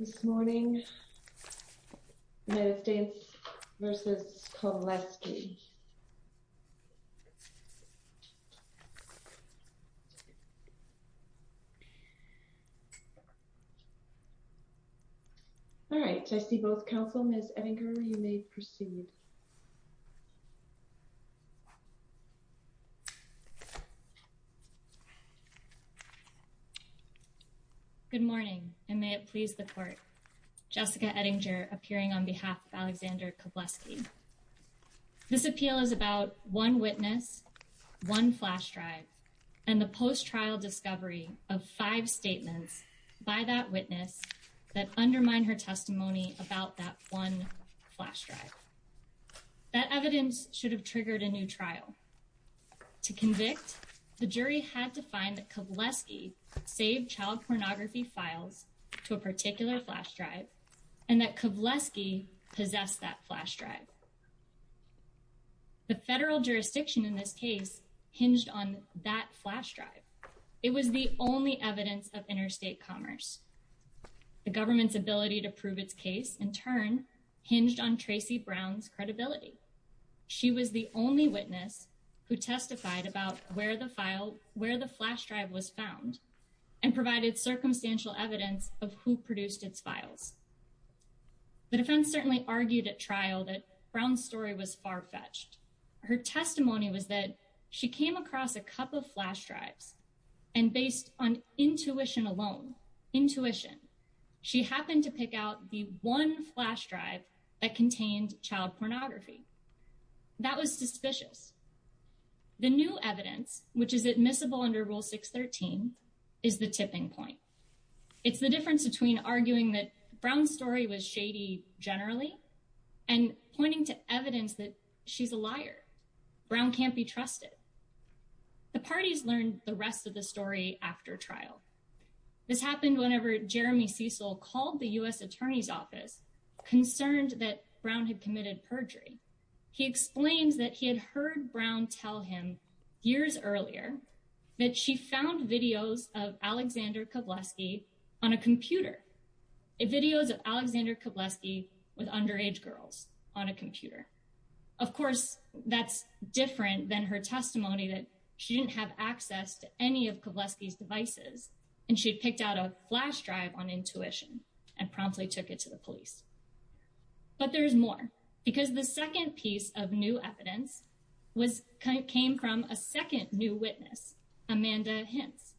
This morning, United States v. Kawleski Alright, I see both counsel. Ms. Edinger, you may proceed. Good morning, and may it please the court. Jessica Edinger, appearing on behalf of Alexander Kawleski. This appeal is about one witness, one flash drive, and the post-trial discovery of five statements by that witness that undermine her testimony about that one flash drive. That evidence should have triggered a new trial. To convict, the jury had to find that Kawleski saved child pornography files to a particular flash drive, and that Kawleski possessed that flash drive. The federal jurisdiction in this case hinged on that flash drive. It was the only evidence of interstate commerce. The government's ability to prove its case, in turn, hinged on Tracy Brown's credibility. She was the only witness who testified about where the flash drive was found, and provided circumstantial evidence of who produced its files. The defense certainly argued at trial that Brown's story was far-fetched. Her testimony was that she came across a cup of flash drives, and based on intuition alone, intuition, she happened to pick out the one flash drive that contained child pornography. That was suspicious. The new evidence, which is admissible under Rule 613, is the tipping point. It's the difference between arguing that Brown's story was shady generally, and pointing to evidence that she's a liar. Brown can't be trusted. The parties learned the rest of the story after trial. This happened whenever Jeremy Cecil called the U.S. Attorney's Office, concerned that Brown had committed perjury. He explains that he had heard Brown tell him years earlier that she found videos of Alexander Kawleski on a computer. Videos of Alexander Kawleski with underage girls on a computer. Of course, that's different than her testimony that she didn't have access to any of Kawleski's devices, and she had picked out a flash drive on intuition, and promptly took it to the police. But there's more, because the second piece of new evidence came from a second new witness, Amanda Hintz.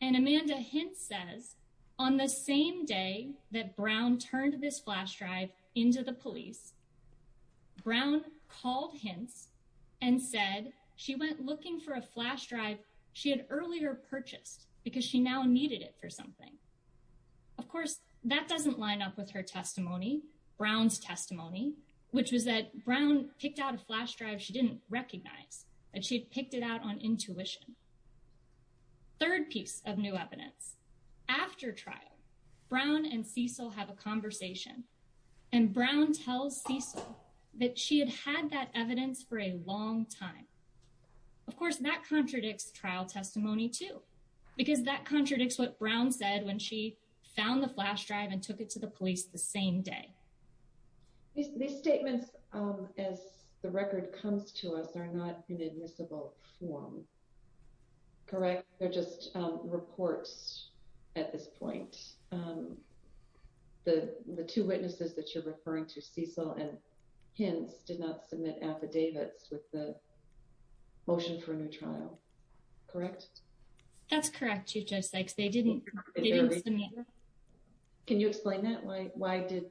And Amanda Hintz says, on the same day that Brown turned this flash drive into the police, Brown called Hintz and said she went looking for a flash drive she had earlier purchased, because she now needed it for something. Of course, that doesn't line up with her testimony, Brown's testimony, which was that Brown picked out a flash drive she didn't recognize, and she had picked it out on intuition. Third piece of new evidence. After trial, Brown and Cecil have a conversation, and Brown tells Cecil that she had had that evidence for a long time. Of course, that contradicts trial testimony too, because that contradicts what Brown said when she found the flash drive and took it to the police the same day. These statements, as the record comes to us, are not in admissible form. Correct? They're just reports at this point. The two witnesses that you're referring to, Cecil and Hintz, did not submit affidavits with the motion for a new trial. Correct? That's correct, Chief Joe Sykes. They didn't submit. Can you explain that? Why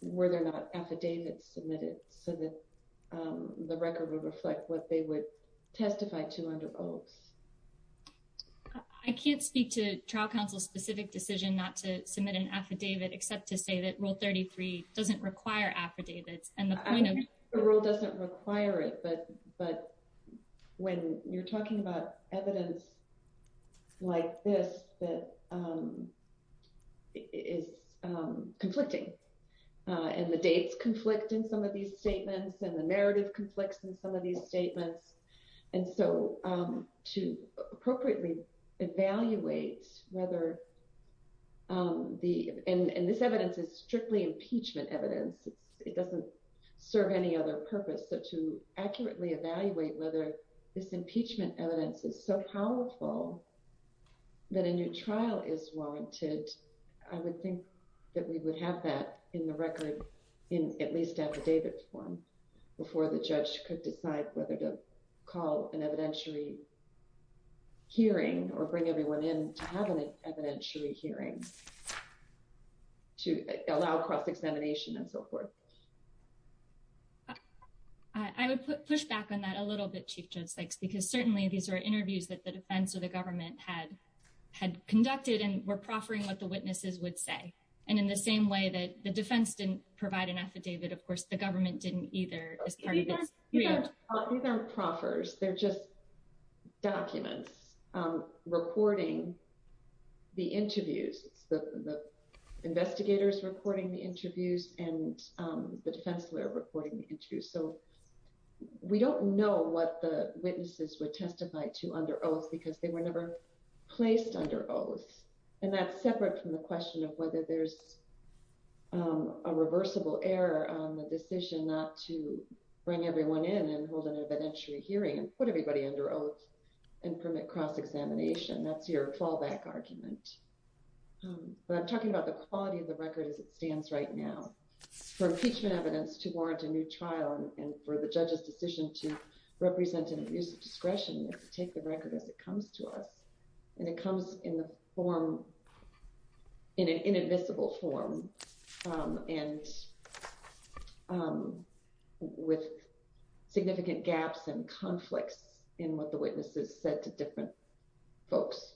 were there not affidavits submitted so that the record would reflect what they would testify to under oaths? I can't speak to trial counsel's specific decision not to submit an affidavit, except to say that Rule 33 doesn't require affidavits. The rule doesn't require it, but when you're talking about evidence like this that is conflicting, and the dates conflict in some of these statements, and the narrative conflicts in some of these statements, and so to appropriately evaluate whether, and this evidence is strictly impeachment evidence, it doesn't serve any other purpose, so to accurately evaluate whether this impeachment evidence is so powerful that a new trial is warranted, I would think that we would have that in the record in at least affidavit form before the judge could decide whether to call an evidentiary hearing or bring everyone in to have an evidentiary hearing to allow cross-examination and so forth. I would push back on that a little bit, Chief Joe Sykes, because certainly these are interviews that the defense or the government had conducted and were proffering what the witnesses would say, and in the same way that the defense didn't provide an affidavit, of course, the government didn't either. These aren't proffers, they're just documents reporting the interviews, the investigators reporting the interviews, and the defense lawyer reporting the interviews, so we don't know what the witnesses would testify to under oath because they were never placed under oath, and that's separate from the question of whether there's a reversible error on the decision not to bring everyone in and hold an evidentiary hearing and put everybody under oath and permit cross-examination. That's your fallback argument. But I'm talking about the quality of the record as it stands right now. For impeachment evidence to warrant a new trial and for the judge's decision to represent an abuse of discretion, we have to take the record as it comes to us, and it comes in an inadmissible form and with significant gaps and conflicts in what the witnesses said to different folks.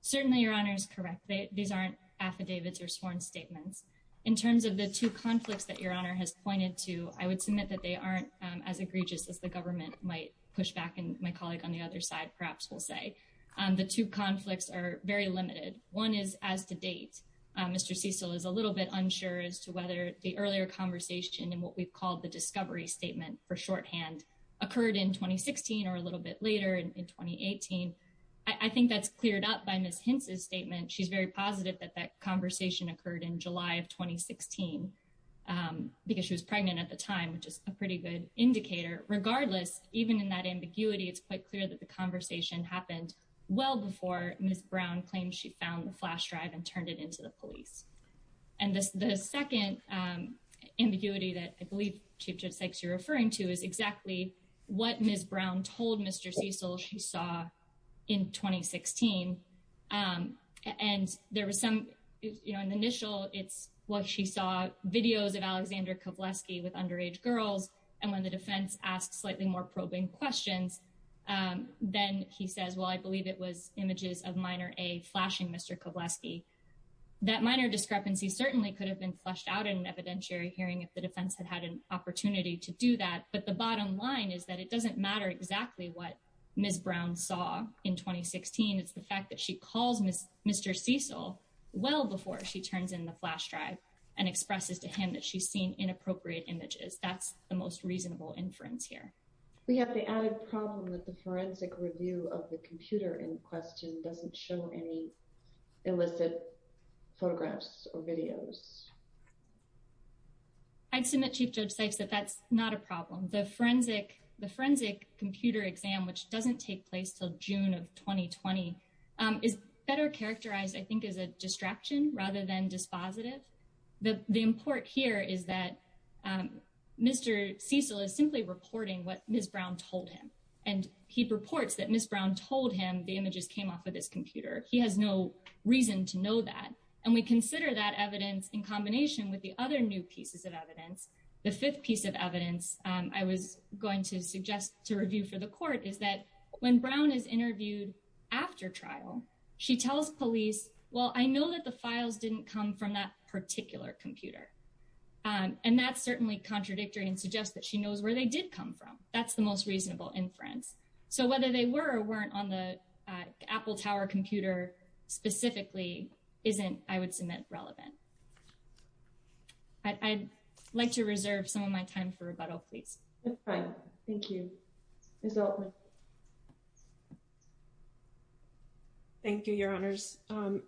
Certainly, Your Honor is correct. These aren't affidavits or sworn statements. In terms of the two conflicts that Your Honor has pointed to, I would submit that they aren't as egregious as the government might push back, and my colleague on the other side perhaps will say. The two conflicts are very limited. One is as to date. Mr. Cecil is a little bit unsure as to whether the earlier conversation and what we've called the discovery statement for shorthand occurred in 2016 or a little bit later in 2018. I think that's cleared up by Ms. Hintz's statement. She's very positive that that conversation occurred in July of 2016 because she was pregnant at the time, which is a pretty good indicator. Regardless, even in that ambiguity, it's quite clear that the conversation happened well before Ms. Brown claimed she found the flash drive and turned it into the police. The second ambiguity that I believe, Chief Judge Sykes, you're referring to is exactly what Ms. Brown told Mr. Cecil she saw in 2016. In the initial, it's what she saw videos of Alexander Kovleski with underage girls, and when the defense asked slightly more probing questions, then he says, well, I believe it was images of minor A flashing Mr. Kovleski. That minor discrepancy certainly could have been flushed out in an evidentiary hearing if the defense had had an opportunity to do that. But the bottom line is that it doesn't matter exactly what Ms. Brown saw in 2016. It's the fact that she calls Mr. Cecil well before she turns in the flash drive and expresses to him that she's seen inappropriate images. That's the most reasonable inference here. We have the added problem that the forensic review of the computer in question doesn't show any illicit photographs or videos. I'd submit, Chief Judge Sykes, that that's not a problem. The forensic the forensic computer exam, which doesn't take place till June of 2020, is better characterized, I think, as a distraction rather than dispositive. The import here is that Mr. Cecil is simply reporting what Ms. Brown told him, and he reports that Ms. Brown told him the images came off of this computer. He has no reason to know that. And we consider that evidence in combination with the other new pieces of evidence. The fifth piece of evidence I was going to suggest to review for the court is that when Brown is interviewed after trial, she tells police, well, I know that the files didn't come from that particular computer. And that's certainly contradictory and suggests that she knows where they did come from. That's the most reasonable inference. So whether they were or weren't on the Apple Tower computer specifically isn't, I would submit, relevant. I'd like to reserve some of my time for rebuttal, please. Thank you. Thank you, Your Honors.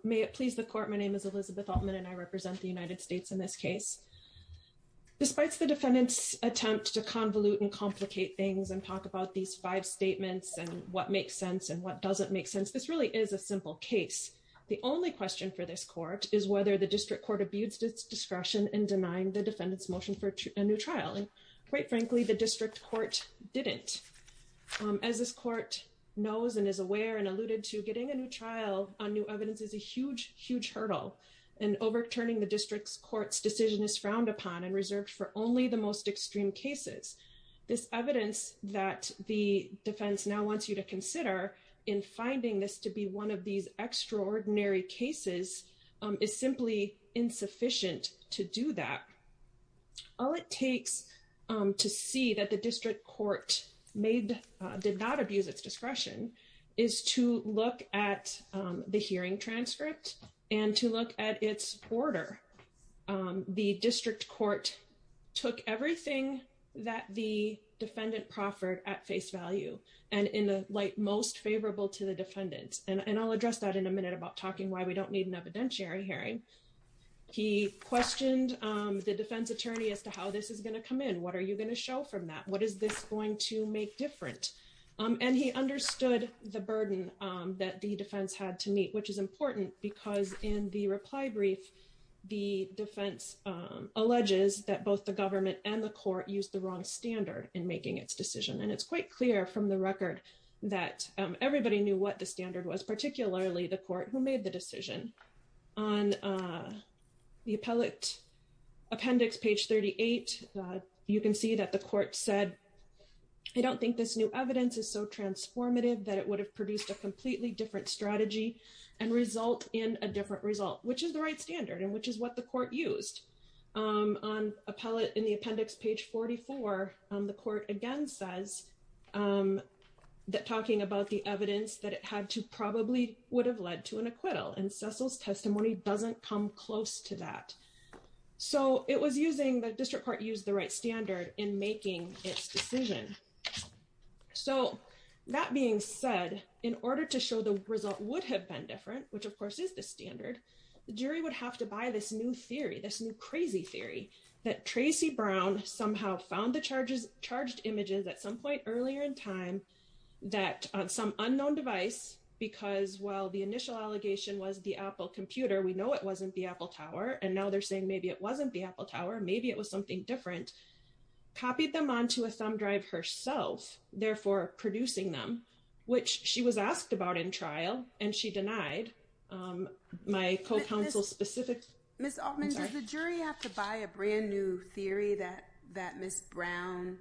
May it please the court. My name is Elizabeth Altman and I represent the United States in this case. Despite the defendant's attempt to convolute and complicate things and talk about these five statements and what makes sense and what doesn't make sense, this really is a simple case. The only question for this court is whether the district court abused its discretion in denying the defendant's motion for a new trial. And quite frankly, the district court didn't. As this court knows and is aware and alluded to, getting a new trial on new evidence is a huge, huge hurdle. And overturning the district's court's decision is frowned upon and reserved for only the most extreme cases. This evidence that the defense now wants you to consider in finding this to be one of these extraordinary cases is simply insufficient to do that. All it takes to see that the district court did not abuse its discretion is to look at the hearing transcript and to look at its order. The district court took everything that the defendant proffered at face value and in the light most favorable to the defendant. And I'll address that in a minute about talking why we don't need an evidentiary hearing. He questioned the defense attorney as to how this is going to come in. What are you going to show from that? What is this going to make different? And he understood the burden that the defense had to meet, which is important because in the reply brief, the defense alleges that both the government and the court used the wrong standard in making its decision. And it's quite clear from the record that everybody knew what the standard was, particularly the court who made the decision. On the appellate appendix, page 38, you can see that the court said, I don't think this new evidence is so transformative that it would have produced a completely different strategy and result in a different result, which is the right standard and which is what the court used. On appellate in the appendix, page 44, the court again says that talking about the evidence that it had to probably would have led to an acquittal and Cecil's testimony doesn't come close to that. So it was using the district court used the right standard in making its decision. So that being said, in order to show the result would have been different, which of course is the standard, the jury would have to buy this new theory, this new crazy theory that Tracy Brown somehow found the charges charged images at some point earlier in time, that some unknown device, because while the initial allegation was the Apple computer, we know it wasn't the Apple tower. And now they're saying maybe it wasn't the Apple tower, maybe it was something different, copied them onto a thumb drive herself, therefore producing them, which she was asked about in trial, and she denied my co-counsel specific. Miss Altman, does the jury have to buy a brand new theory that that Miss Brown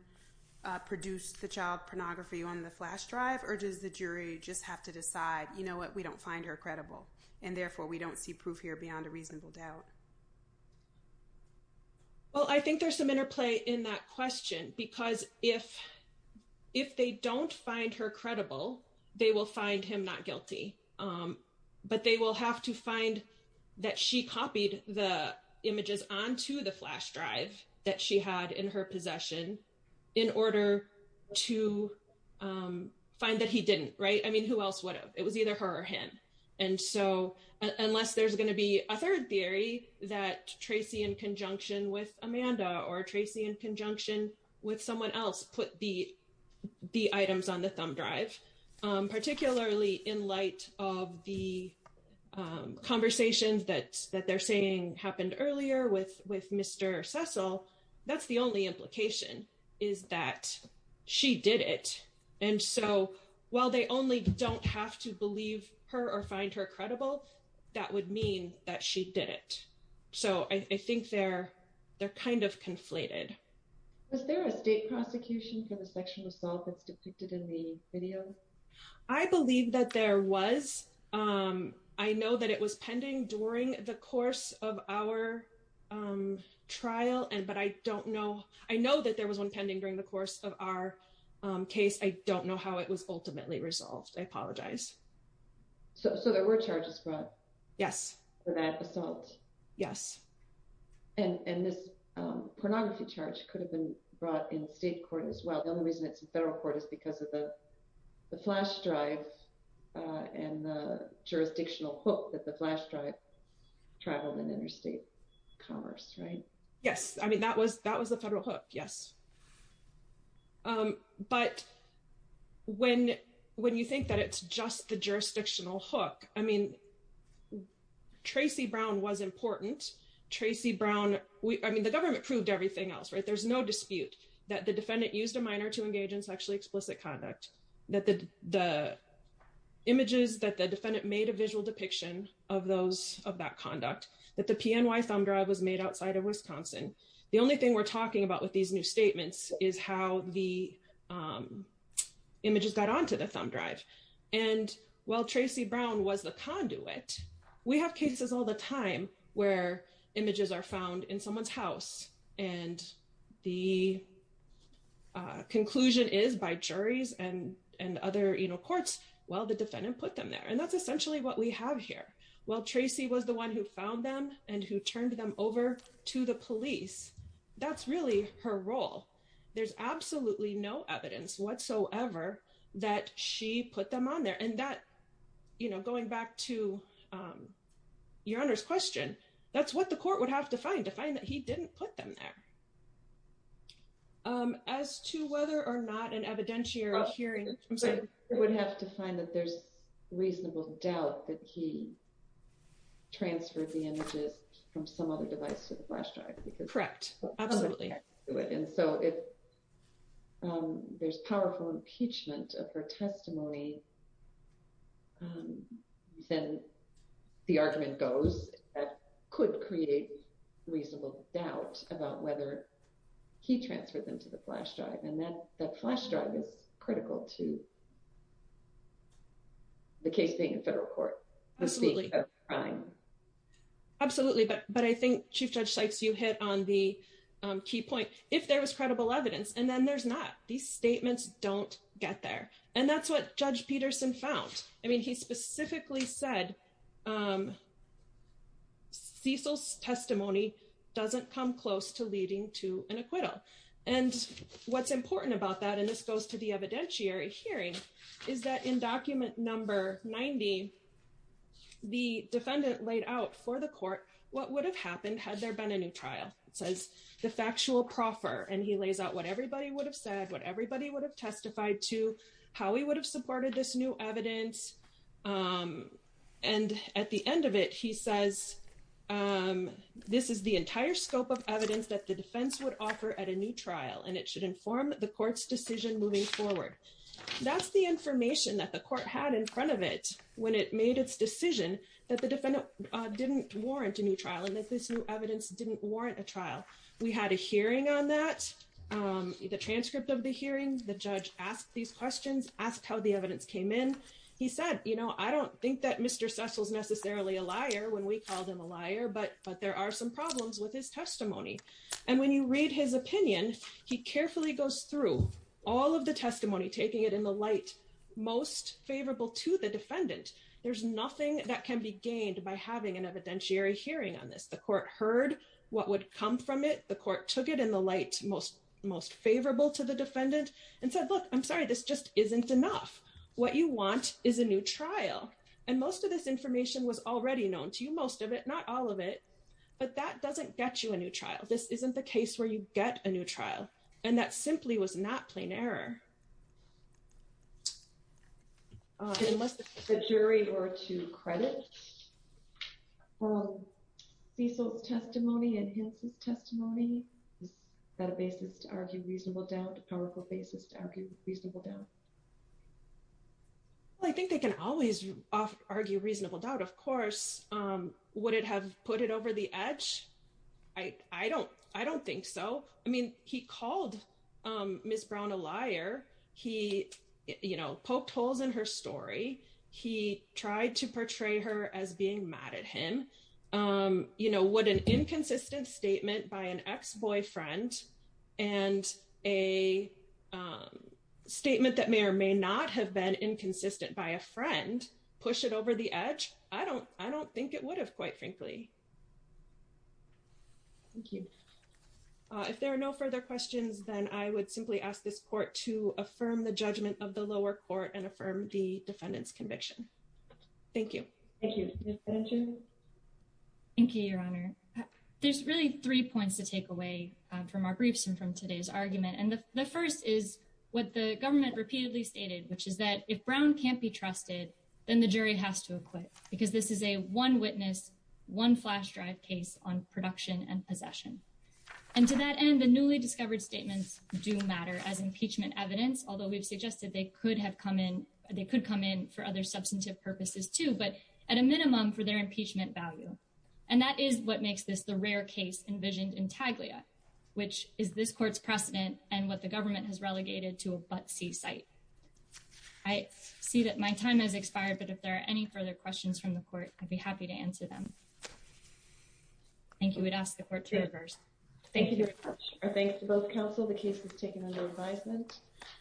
produced the child pornography on the flash drive, or does the jury just have to decide, you know what, we don't find her credible, and therefore we don't see proof here beyond a reasonable doubt. Well, I think there's some interplay in that question, because if, if they don't find her credible, they will find him not guilty, but they will have to find that she copied the images onto the flash drive that she had in her possession, in order to find that he didn't right I mean who else would have, it was either her or him. And so, unless there's going to be a third theory that Tracy in conjunction with Amanda or Tracy in conjunction with someone else put the, the items on the thumb drive, particularly in light of the conversations that that they're saying happened earlier with with Mr. Cecil, that's the only implication is that she did it. And so, while they only don't have to believe her or find her credible. That would mean that she did it. So I think they're, they're kind of conflated. Was there a state prosecution for the sexual assault that's depicted in the video. I believe that there was, um, I know that it was pending during the course of our trial and but I don't know, I know that there was one pending during the course of our case I don't know how it was ultimately resolved I apologize. So there were charges brought. Yes. Yes. And this pornography charge could have been brought in state court as well. The only reason it's a federal court is because of the flash drive and jurisdictional hook that the flash drive travel and interstate commerce right. Yes, I mean that was that was a federal hook. Yes. But when, when you think that it's just the jurisdictional hook. I mean, Tracy Brown was important, Tracy Brown, we, I mean the government proved everything else right there's no dispute that the defendant used a minor to engage in sexually explicit conduct that the, the images in the statements is how the images got onto the thumb drive. And while Tracy Brown was the conduit. We have cases all the time, where images are found in someone's house, and the conclusion is by juries and, and other you know courts. Well, the defendant put them there and that's essentially what we have here. Well, Tracy was the one who found them, and who turned them over to the police. That's really her role. There's absolutely no evidence whatsoever, that she put them on there and that, you know, going back to your honors question. That's what the court would have to find to find that he didn't put them there. As to whether or not an evidentiary hearing would have to find that there's reasonable doubt that he transferred the images from some other device to the flash drive because correct. Absolutely. And so if there's powerful impeachment of her testimony. Then the argument goes, could create reasonable doubt about whether he transferred them to the flash drive and then the flash drive is critical to the case being in federal court. Absolutely. But, but I think Chief Judge Sykes you hit on the key point, if there was credible evidence and then there's not these statements, don't get there. And that's what Judge Peterson found. I mean he specifically said Cecil's testimony doesn't come close to leading to an acquittal. And what's important about that and this goes to the evidentiary hearing is that in document number 90. The defendant laid out for the court, what would have happened had there been a new trial, it says the factual proffer and he lays out what everybody would have said what everybody would have testified to how he would have supported this new evidence. And at the end of it, he says, this is the entire scope of evidence that the defense would offer at a new trial and it should inform the court's decision moving forward. That's the information that the court had in front of it, when it made its decision that the defendant didn't warrant a new trial and that this new evidence didn't warrant a trial. We had a hearing on that. The transcript of the hearing, the judge asked these questions, asked how the evidence came in. He said, you know, I don't think that Mr Cecil's necessarily a liar when we called him a liar but but there are some problems with his testimony. And when you read his opinion, he carefully goes through all of the testimony, taking it in the light, most favorable to the defendant. There's nothing that can be gained by having an evidentiary hearing on this. The court heard what would come from it. The court took it in the light, most most favorable to the defendant and said, look, I'm sorry, this just isn't enough. What you want is a new trial. And most of this information was already known to you, most of it, not all of it, but that doesn't get you a new trial. This isn't the case where you get a new trial, and that simply was not plain error. Unless the jury were to credit Cecil's testimony and his testimony, is that a basis to argue reasonable doubt, a powerful basis to argue reasonable doubt? I think they can always argue reasonable doubt, of course. Would it have put it over the edge? I don't I don't think so. I mean, he called Miss Brown a liar. He, you know, poked holes in her story. He tried to portray her as being mad at him. You know, would an inconsistent statement by an ex-boyfriend and a statement that may or may not have been inconsistent by a friend push it over the edge? I don't I don't think it would have, quite frankly. Thank you. If there are no further questions, then I would simply ask this court to affirm the judgment of the lower court and affirm the defendant's conviction. Thank you. Thank you, Your Honor. There's really three points to take away from our briefs and from today's argument. And the first is what the government repeatedly stated, which is that if Brown can't be trusted, then the jury has to acquit because this is a one witness, one flash drive case on production and possession. And to that end, the newly discovered statements do matter as impeachment evidence, although we've suggested they could have come in, they could come in for other substantive purposes, too, but at a minimum for their impeachment value. And that is what makes this the rare case envisioned in Taglia, which is this court's precedent and what the government has relegated to a but see site. I see that my time has expired, but if there are any further questions from the court, I'd be happy to answer them. Thank you. We'd ask the court to reverse. Thank you. Thanks to both counsel. The case was taken under advisement.